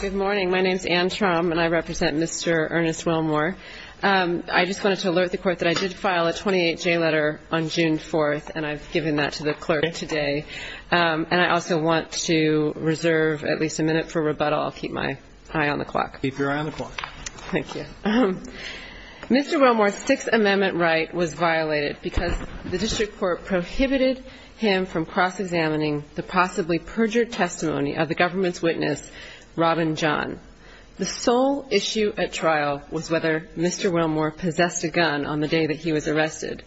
Good morning. My name is Ann Trom and I represent Mr. Ernest Wilmore. I just wanted to alert the court that I did file a 28-J letter on June 4th and I've given that to the clerk today. And I also want to reserve at least a minute for rebuttal. I'll keep my eye on the clock. Keep your eye on the clock. Thank you. Mr. Wilmore's Sixth Amendment right was violated because the district court prohibited him from cross-examining the possibly perjured testimony of the government's witness, Robin John. The sole issue at trial was whether Mr. Wilmore possessed a gun on the day that he was arrested.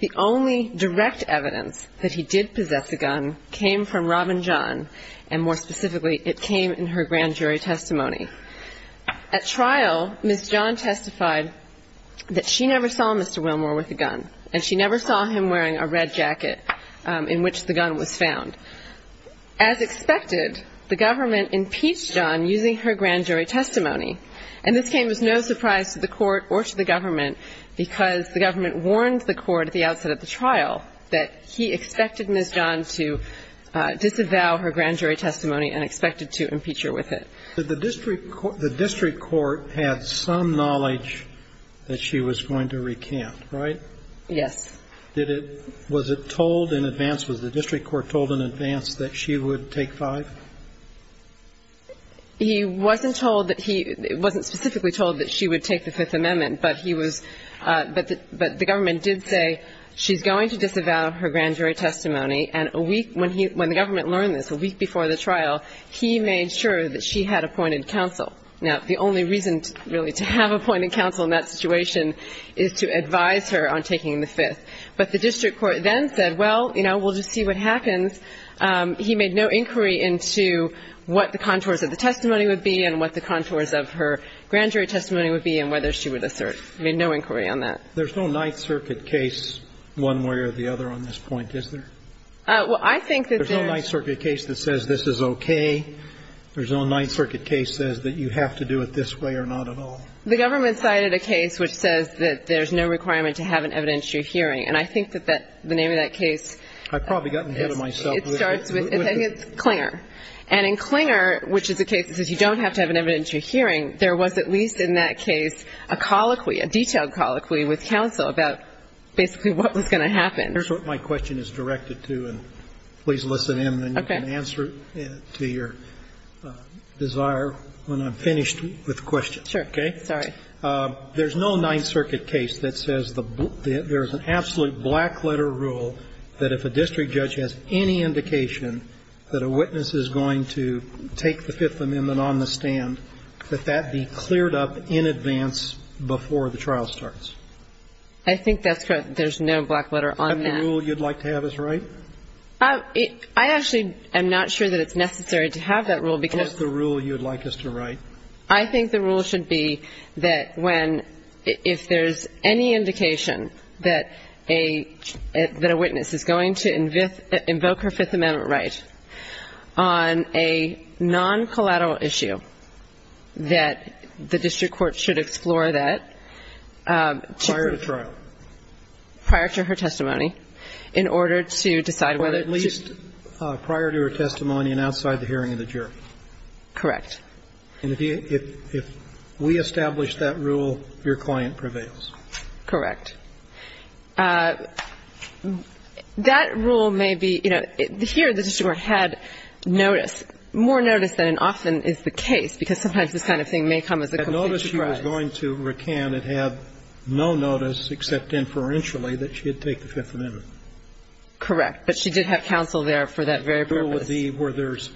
The only direct evidence that he did possess a gun came from Robin John and more specifically, it came in her grand jury testimony. At trial, Ms. John testified that she never saw Mr. Wilmore with a gun and she never saw him wearing a red jacket in which the gun was found. As expected, the government impeached John using her grand jury testimony. And this came as no surprise to the court or to the government because the government warned the court at the outset of the trial that he expected Ms. John to disavow her grand jury testimony and expected to impeach her with it. But the district court had some knowledge that she was going to recant, right? Yes. Was it told in advance, was the district court told in advance that she would take five? He wasn't told that he, wasn't specifically told that she would take the Fifth Amendment, but he was, but the government did say she's going to disavow her grand jury testimony and a week when he, when the government learned this, a week before the trial, he made sure that she had appointed counsel. Now, the only reason really to have appointed counsel in that situation is to advise her on taking the Fifth. But the district court then said, well, you know, we'll just see what happens. He made no inquiry into what the contours of the testimony would be and what the contours of her grand jury testimony would be and whether she would assert. He made no inquiry on that. There's no Ninth Circuit case one way or the other on this point, is there? Well, I think that there's There's no Ninth Circuit case that says this is okay. There's no Ninth Circuit case that says that you have to do it this way or not at all. The government cited a case which says that there's no requirement to have an evidentiary hearing. And I think that that, the name of that case I've probably gotten ahead of myself. It starts with, I think it's Clinger. And in Clinger, which is a case that says you don't have to have an evidentiary hearing, there was at least in that case a colloquy, a detailed colloquy with counsel about basically what was going to happen. Here's what my question is directed to, and please listen in, and then you can answer to your desire when I'm finished with the question. Sure. Okay? Sorry. There's no Ninth Circuit case that says there's an absolute black letter rule that if a district judge has any indication that a witness is going to take the Fifth Amendment on the stand, that that be cleared up in advance before the trial starts. I think that's correct. There's no black letter on that. Is that the rule you'd like to have us write? I actually am not sure that it's necessary to have that rule, because the rule you'd like us to write. I think the rule should be that when, if there's any indication that a witness is going to invoke her Fifth Amendment right on a non-collateral issue, that the district court should explore that prior to trial. Prior to her testimony, in order to decide whether to or at least prior to her testimony and outside the hearing of the jury. Correct. And if we establish that rule, your client prevails. Correct. That rule may be, you know, here the district court had notice, more notice than often is the case, because sometimes this kind of thing may come as a complete surprise. So the district court was going to recant and have no notice except inferentially that she'd take the Fifth Amendment. Correct. But she did have counsel there for that very purpose. The rule would be where there's,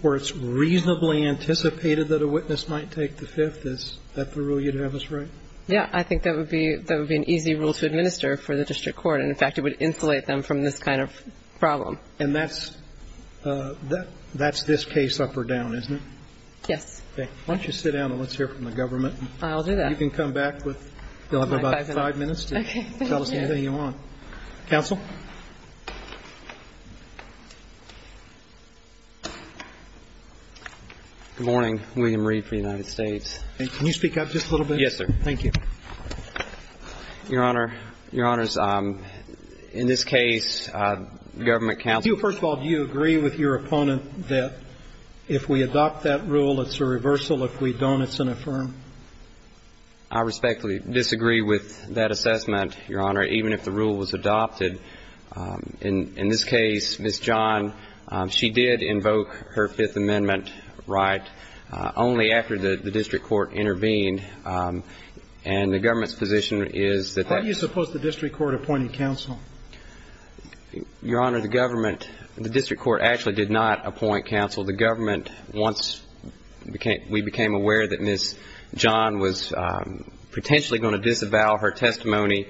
where it's reasonably anticipated that a witness might take the Fifth, is that the rule you'd have us write? Yeah. I think that would be, that would be an easy rule to administer for the district court. And in fact, it would insulate them from this kind of problem. And that's, that's this case up or down, isn't it? Yes. Okay. Why don't you sit down and let's hear from the government. I'll do that. You can come back with, you'll have about five minutes to tell us anything you want. Okay. Thank you. Counsel? Good morning. William Reed for the United States. Can you speak up just a little bit? Yes, sir. Thank you. Your Honor, your Honors, in this case, government counsel. First of all, do you agree with your opponent that if we adopt that rule, it's a reversal? If we don't, it's an affirm. I respectfully disagree with that assessment, your Honor. Even if the rule was adopted, in this case, Ms. John, she did invoke her Fifth Amendment right only after the district court intervened. And the government's position is that. How do you suppose the district court appointed counsel? Your Honor, the government, the district court actually did not appoint counsel. The government, once we became aware that Ms. John was potentially going to disavow her testimony,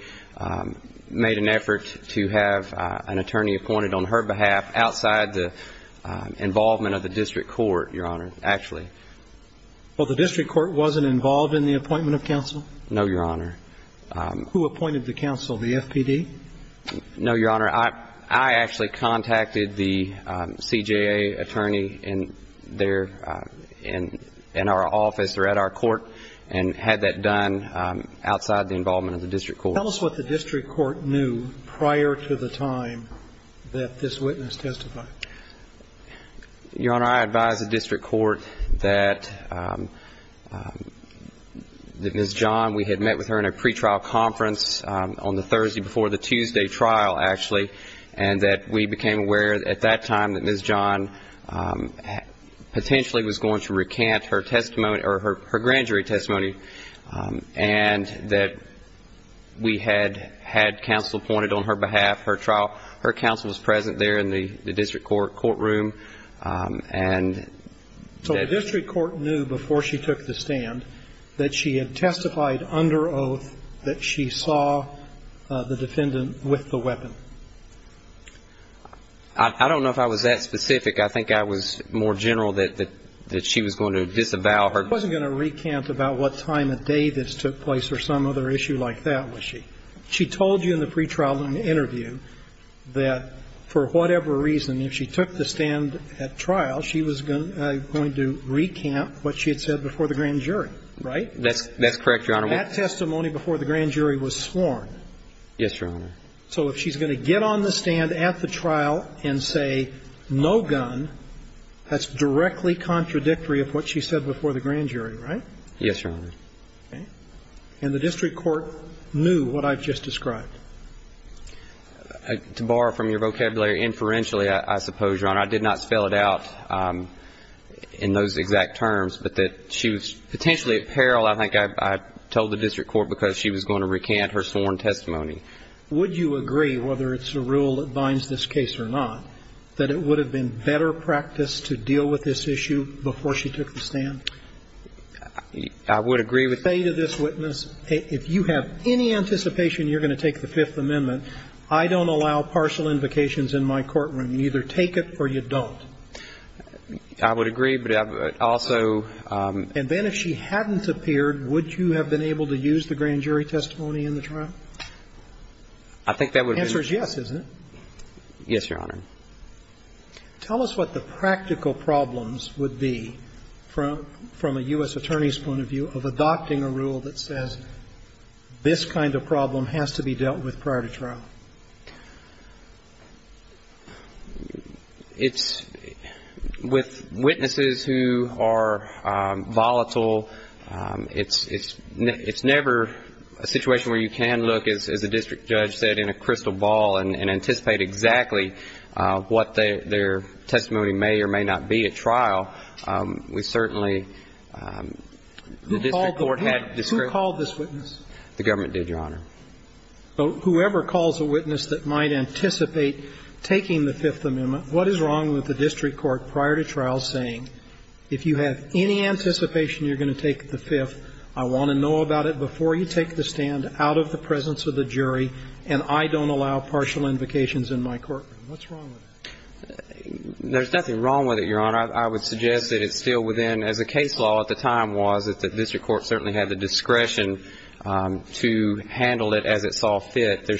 made an effort to have an attorney appointed on her behalf outside the involvement of the district court, your Honor, actually. Well, the district court wasn't involved in the appointment of counsel? No, your Honor. Who appointed the counsel? The FPD? No, your Honor. I actually contacted the CJA attorney in our office or at our court and had that done outside the involvement of the district court. Tell us what the district court knew prior to the time that this witness testified. Your Honor, I advised the district court that Ms. John had testified before the Tuesday trial, actually, and that we became aware at that time that Ms. John potentially was going to recant her testimony or her grand jury testimony, and that we had had counsel appointed on her behalf. Her trial, her counsel was present there in the district court courtroom. So the district court knew before she took the stand that she had testified under oath that she saw the defendant with the weapon. I don't know if I was that specific. I think I was more general that she was going to disavow her. She wasn't going to recant about what time of day this took place or some other issue like that, was she? She told you in the pre-trial interview that for whatever reason, if she took the stand at trial, she was going to recant what she had said before the grand jury, right? That's correct, your Honor. That testimony before the grand jury was sworn. Yes, your Honor. So if she's going to get on the stand at the trial and say, no gun, that's directly contradictory of what she said before the grand jury, right? Yes, your Honor. Okay. And the district court knew what I've just described. To borrow from your vocabulary, inferentially, I suppose, your Honor, I did not spell it out in those exact terms, but that she was potentially at peril. I think I told the district court because she was going to recant her sworn testimony. Would you agree, whether it's a rule that binds this case or not, that it would have been better practice to deal with this issue before she took the stand? I would agree with that. Say to this witness, if you have any anticipation you're going to take the Fifth Amendment, I don't allow partial invocations in my courtroom. You either take it or you don't. I would agree, but I would also – And then if she hadn't appeared, would you have been able to use the grand jury testimony in the trial? I think that would have been – The answer is yes, isn't it? Yes, your Honor. Tell us what the practical problems would be from a U.S. attorney's point of view of adopting a rule that says this kind of problem has to be dealt with prior to trial. It's – with witnesses who are volatile, it's never a situation where you can look, as the district judge said, in a crystal ball and anticipate exactly what their testimony may or may not be at trial. We certainly – the district court had discretion. Who called this witness? The government did, your Honor. Whoever calls a witness that might anticipate taking the Fifth Amendment, what is wrong with the district court prior to trial saying, if you have any anticipation you're going to take the Fifth, I want to know about it before you take the stand out of the presence of the jury, and I don't allow partial invocations in my courtroom? What's wrong with that? There's nothing wrong with it, your Honor. I would suggest that it's still within – as the case law at the time was, that the district court had the discretion to handle this matter as it saw fit at the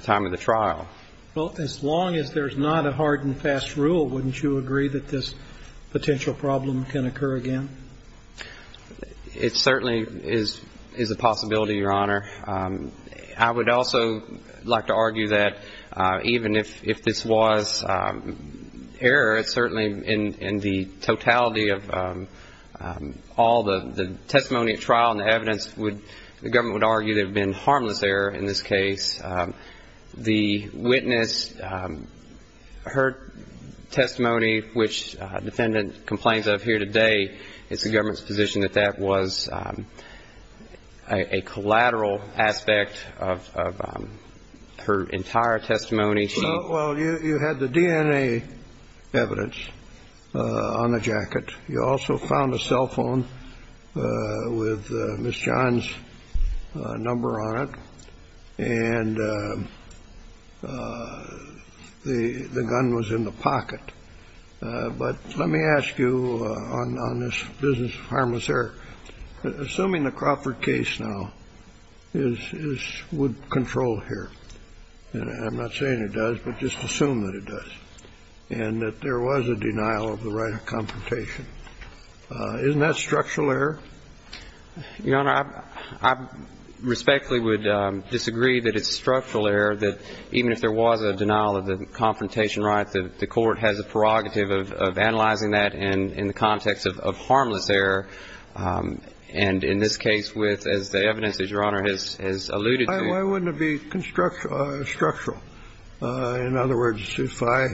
time of the trial. Well, as long as there's not a hard-and-fast rule, wouldn't you agree that this potential problem can occur again? I would also like to argue that even if this was error, certainly in the totality of all the testimony at trial and the evidence, the government would argue there would have been harmless error in this case. The witness, her testimony, which a defendant complains of here today, it's the government's position that that was a collateral aspect of her entire testimony. Well, you had the DNA evidence on the jacket. You also found a cell phone with Ms. John's number on it, and the gun was in the pocket. But let me ask you on this business of harmless error, assuming the Crawford case now is – would control here – and I'm not saying it does, but just assume that it does – and that there was a denial of the right of confrontation, isn't that structural error? Your Honor, I respectfully would disagree that it's structural error that even if there was a denial of the confrontation right, the court has a prerogative of analyzing that in the context of harmless error, and in this case with, as the evidence, as Your Honor has alluded to. Why wouldn't it be structural? In other words, if I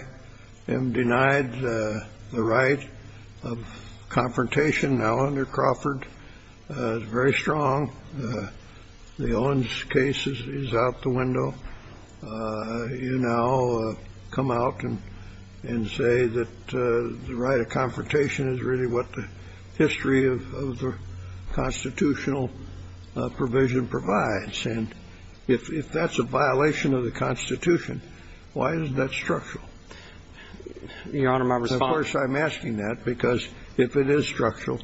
am denied the right of confrontation, now, under Crawford, it's very strong. The Owens case is out the window. You now come out and say that the right of confrontation is really what the history of the constitutional provision provides. And if that's a violation of the Constitution, why isn't that structural? Your Honor, my response – Of course, I'm asking that because if it is structural,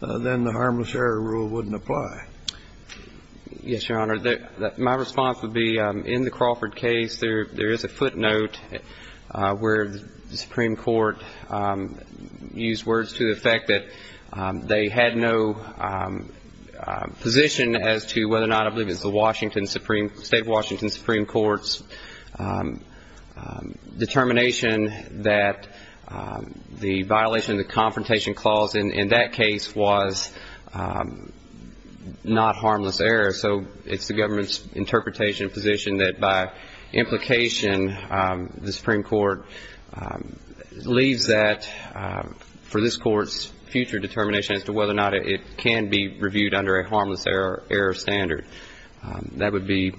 then the harmless error rule wouldn't apply. Yes, Your Honor. My response would be, in the Crawford case, there is a footnote where the Supreme Court used words to the effect that they had no position as to whether or not – I believe it's the state of Washington Supreme Court's determination that the violation of the confrontation clause in that case was not harmless error. So it's the government's interpretation and position that, by implication, the Supreme Court leaves that for this Court's future determination as to whether or not it can be reviewed under a harmless error standard. That would be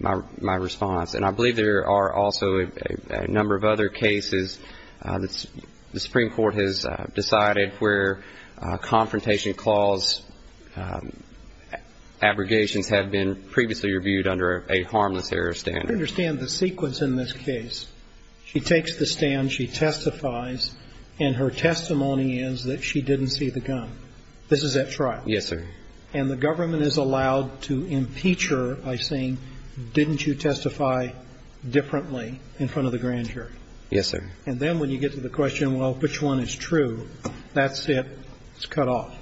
my response. And I believe there are also a number of other cases that the Supreme Court has decided where confrontation clause abrogations have been previously reviewed under a harmless error standard. I don't understand the sequence in this case. She takes the stand, she testifies, and her testimony is that she didn't see the gun. This is at trial. Yes, sir. And the government is allowed to impeach her by saying, didn't you testify differently in front of the grand jury? Yes, sir. And then when you get to the question, well, which one is true, that's it. It's cut off.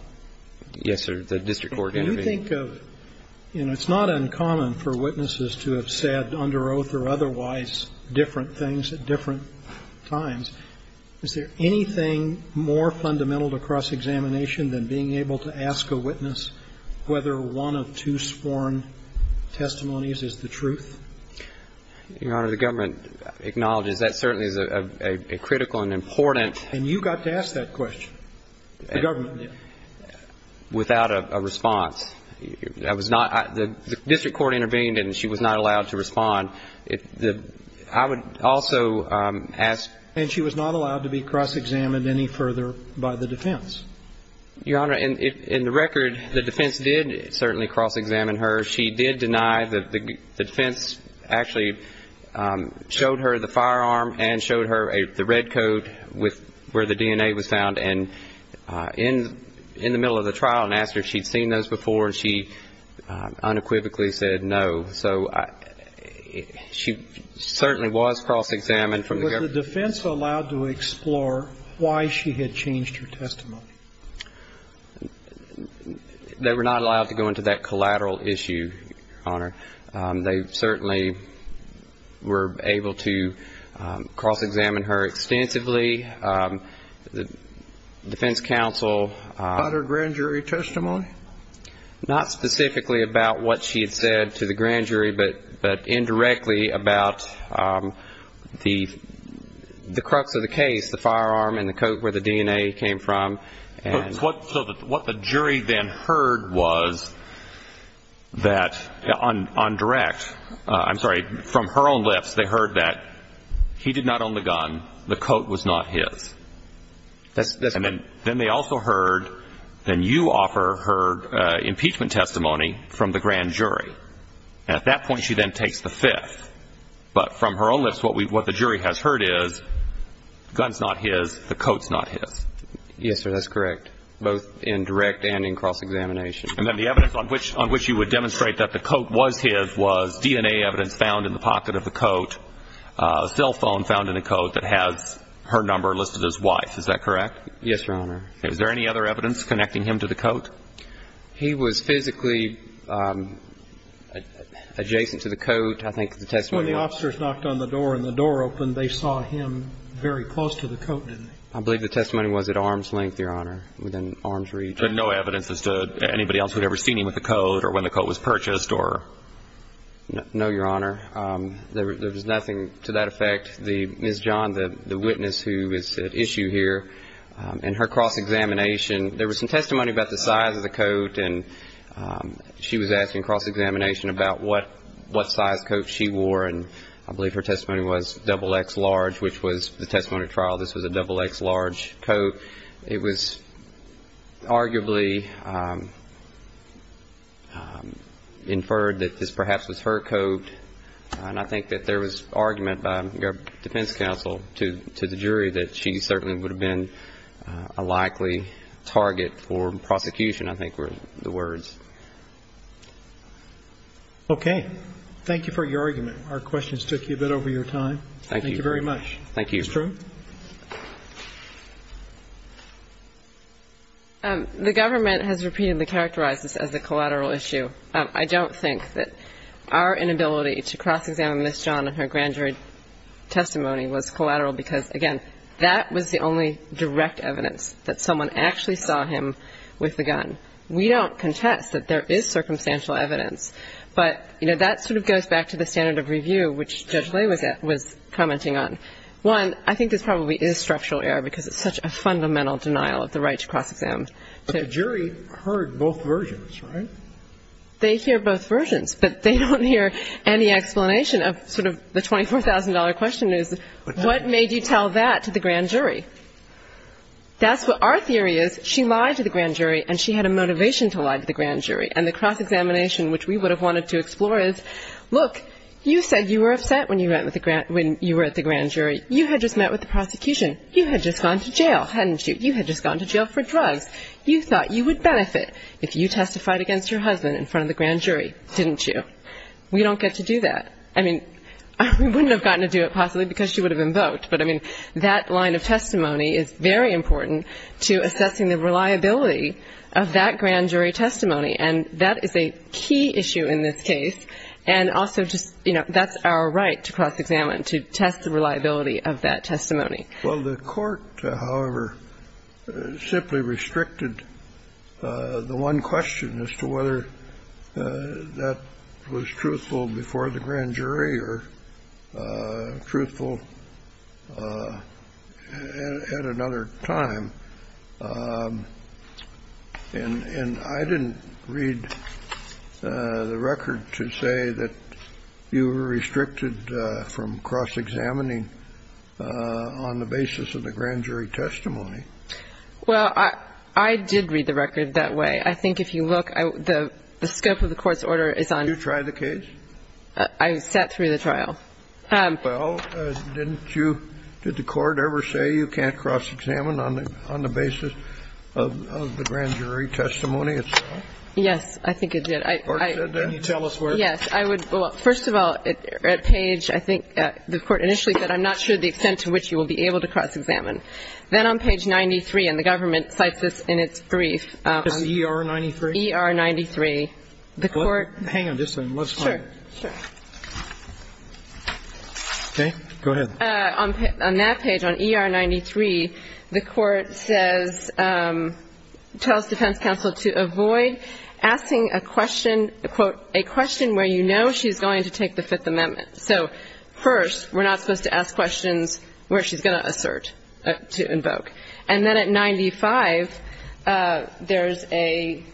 Yes, sir. The district court intervened. Do you think of – you know, it's not uncommon for witnesses to have said under oath or otherwise different things at different times. Is there anything more fundamental to cross-examination than being able to ask a witness whether one of two sworn testimonies is the truth? Your Honor, the government acknowledges that certainly is a critical and important And you got to ask that question. The government did. Without a response. That was not – the district court intervened and she was not allowed to respond. I would also ask And she was not allowed to be cross-examined any further by the defense. Your Honor, in the record, the defense did certainly cross-examine her. She did deny that the defense actually showed her the firearm and showed her the red coat where the DNA was found. And in the middle of the trial and asked her if she'd seen those before, she unequivocally said no. So she certainly was cross-examined from the government. Was the defense allowed to explore why she had changed her testimony? They were not allowed to go into that collateral issue, Your Honor. They certainly were able to cross-examine her extensively. The defense counsel About her grand jury testimony? Not specifically about what she had said to the grand jury, but indirectly about the crux of the case, the firearm and the coat where the DNA came from. So what the jury then heard was that on direct, I'm sorry, from her own lips, they heard that he did not own the gun, the coat was not his. That's right. And then they also heard, then you offer her impeachment testimony from the grand jury. At that point, she then takes the fifth. But from her own lips, what the jury has heard is the gun's not his, the coat's not his. Yes, sir, that's correct, both in direct and in cross-examination. And then the evidence on which you would demonstrate that the coat was his was DNA evidence found in the pocket of the coat, cell phone found in the coat that has her number listed as wife. Is that correct? Yes, Your Honor. Is there any other evidence connecting him to the coat? He was physically adjacent to the coat. When the officers knocked on the door and the door opened, they saw him very close to the coat, didn't they? I believe the testimony was at arm's length, Your Honor, within arm's reach. And no evidence as to anybody else who had ever seen him with the coat or when the coat was purchased or? No, Your Honor. There was nothing to that effect. Ms. John, the witness who is at issue here, in her cross-examination, there was some testimony about the size of the coat, and she was asking cross-examination about what size coat she wore, and I believe her testimony was XXL, which was the testimony at trial. This was a XXL coat. It was arguably inferred that this perhaps was her coat, and I think that there was argument by the defense counsel to the jury that she certainly would have been a likely target for prosecution, I think were the words. Okay. Thank you for your argument. Our questions took you a bit over your time. Thank you very much. Thank you. Ms. True? The government has repeatedly characterized this as a collateral issue. I don't think that our inability to cross-examine Ms. John and her grand jury testimony was collateral because, again, that was the only direct evidence that someone actually saw him with the gun. We don't contest that there is circumstantial evidence, but, you know, that sort of goes back to the standard of review, which Judge Lay was commenting on. One, I think this probably is structural error because it's such a fundamental denial of the right to cross-examine. But the jury heard both versions, right? They hear both versions, but they don't hear any explanation of sort of the $24,000 question is, what made you tell that to the grand jury? That's what our theory is. She lied to the grand jury, and she had a motivation to lie to the grand jury. And the cross-examination, which we would have wanted to explore, is, look, you said you were upset when you were at the grand jury. You had just met with the prosecution. You had just gone to jail, hadn't you? You had just gone to jail for drugs. You thought you would benefit if you testified against your husband in front of the grand jury, didn't you? We don't get to do that. I mean, we wouldn't have gotten to do it, possibly, because she would have been vote. But, I mean, that line of testimony is very important to assessing the reliability of that grand jury testimony. And that is a key issue in this case. And also just, you know, that's our right to cross-examine, to test the reliability of that testimony. Well, the Court, however, simply restricted the one question as to whether that was truthful before the grand jury or truthful at another time. And I didn't read the record to say that you were restricted from cross-examining on the basis of the grand jury testimony. Well, I did read the record that way. I think if you look, the scope of the Court's order is on the basis of the grand jury testimony. And I think that's the case. I sat through the trial. Well, didn't you do the Court ever say you can't cross-examine on the basis of the grand jury testimony itself? Yes, I think it did. Can you tell us where? Yes. I would. Well, first of all, at page, I think the Court initially said, I'm not sure the extent to which you will be able to cross-examine. Then on page 93, and the government cites this in its brief. Is it ER-93? ER-93. The Court. Hang on just a second. Let's find it. Sure. Sure. Okay. Go ahead. On that page, on ER-93, the Court says, tells defense counsel to avoid asking a question, quote, a question where you know she's going to take the Fifth Amendment. So first, we're not supposed to ask questions where she's going to assert, to invoke. And then at 95, there's a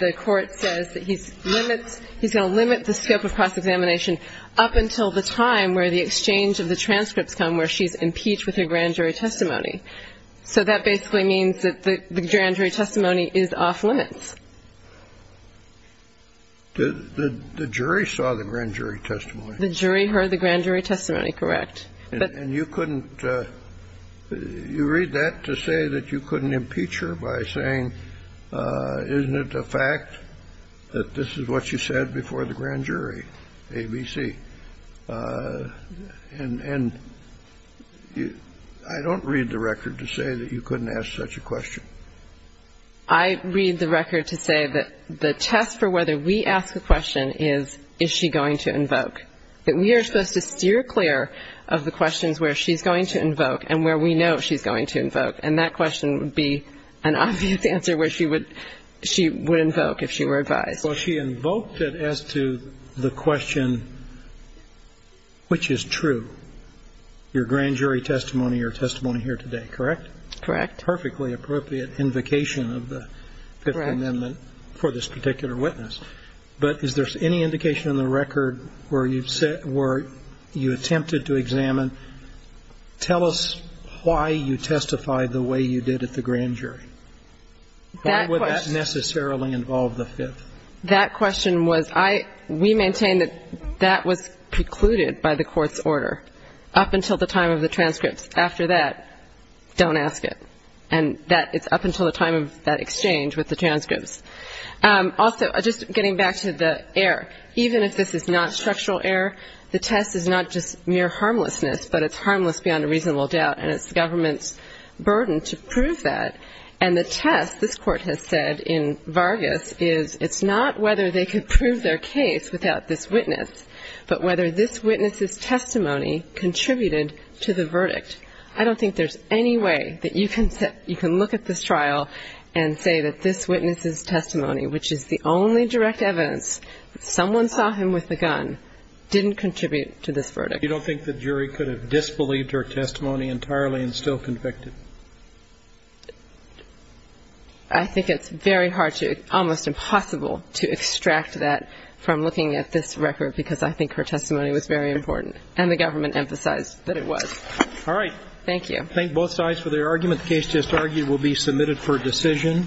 the Court says that he's limits, he's going to limit the scope of cross-examination up until the time where the exchange of the transcripts come where she's impeached with her grand jury testimony. So that basically means that the grand jury testimony is off-limits. The jury saw the grand jury testimony. The jury heard the grand jury testimony, correct. And you couldn't, you read that to say that you couldn't impeach her by saying, isn't it a fact that this is what she said before the grand jury, ABC? And I don't read the record to say that you couldn't ask such a question. I read the record to say that the test for whether we ask a question is, is she going to invoke, that we are supposed to steer clear of the questions where she's going to invoke and where we know she's going to invoke. And that question would be an obvious answer where she would, she would invoke if she were advised. Well, she invoked it as to the question, which is true, your grand jury testimony or testimony here today, correct? Correct. That's a perfectly appropriate invocation of the Fifth Amendment for this particular witness. But is there any indication in the record where you attempted to examine, tell us why you testified the way you did at the grand jury? Why would that necessarily involve the Fifth? That question was, we maintain that that was precluded by the court's order up until the time of the transcripts. After that, don't ask it. And that, it's up until the time of that exchange with the transcripts. Also, just getting back to the error. Even if this is not structural error, the test is not just mere harmlessness, but it's harmless beyond a reasonable doubt. And it's the government's burden to prove that. And the test, this Court has said in Vargas, is it's not whether they could prove their case without this witness, but whether this witness's testimony contributed to the verdict. I don't think there's any way that you can look at this trial and say that this witness's testimony, which is the only direct evidence that someone saw him with the gun, didn't contribute to this verdict. You don't think the jury could have disbelieved her testimony entirely and still convicted? I think it's very hard to, almost impossible to extract that from looking at this record, because I think her testimony was very important. And the government emphasized that it was. All right. Thank you. I thank both sides for their argument. The case just argued will be submitted for decision.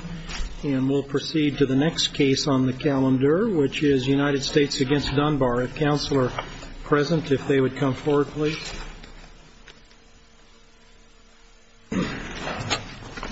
And we'll proceed to the next case on the calendar, which is United States against Dunbar. If counsel are present, if they would come forward, please. Thank you.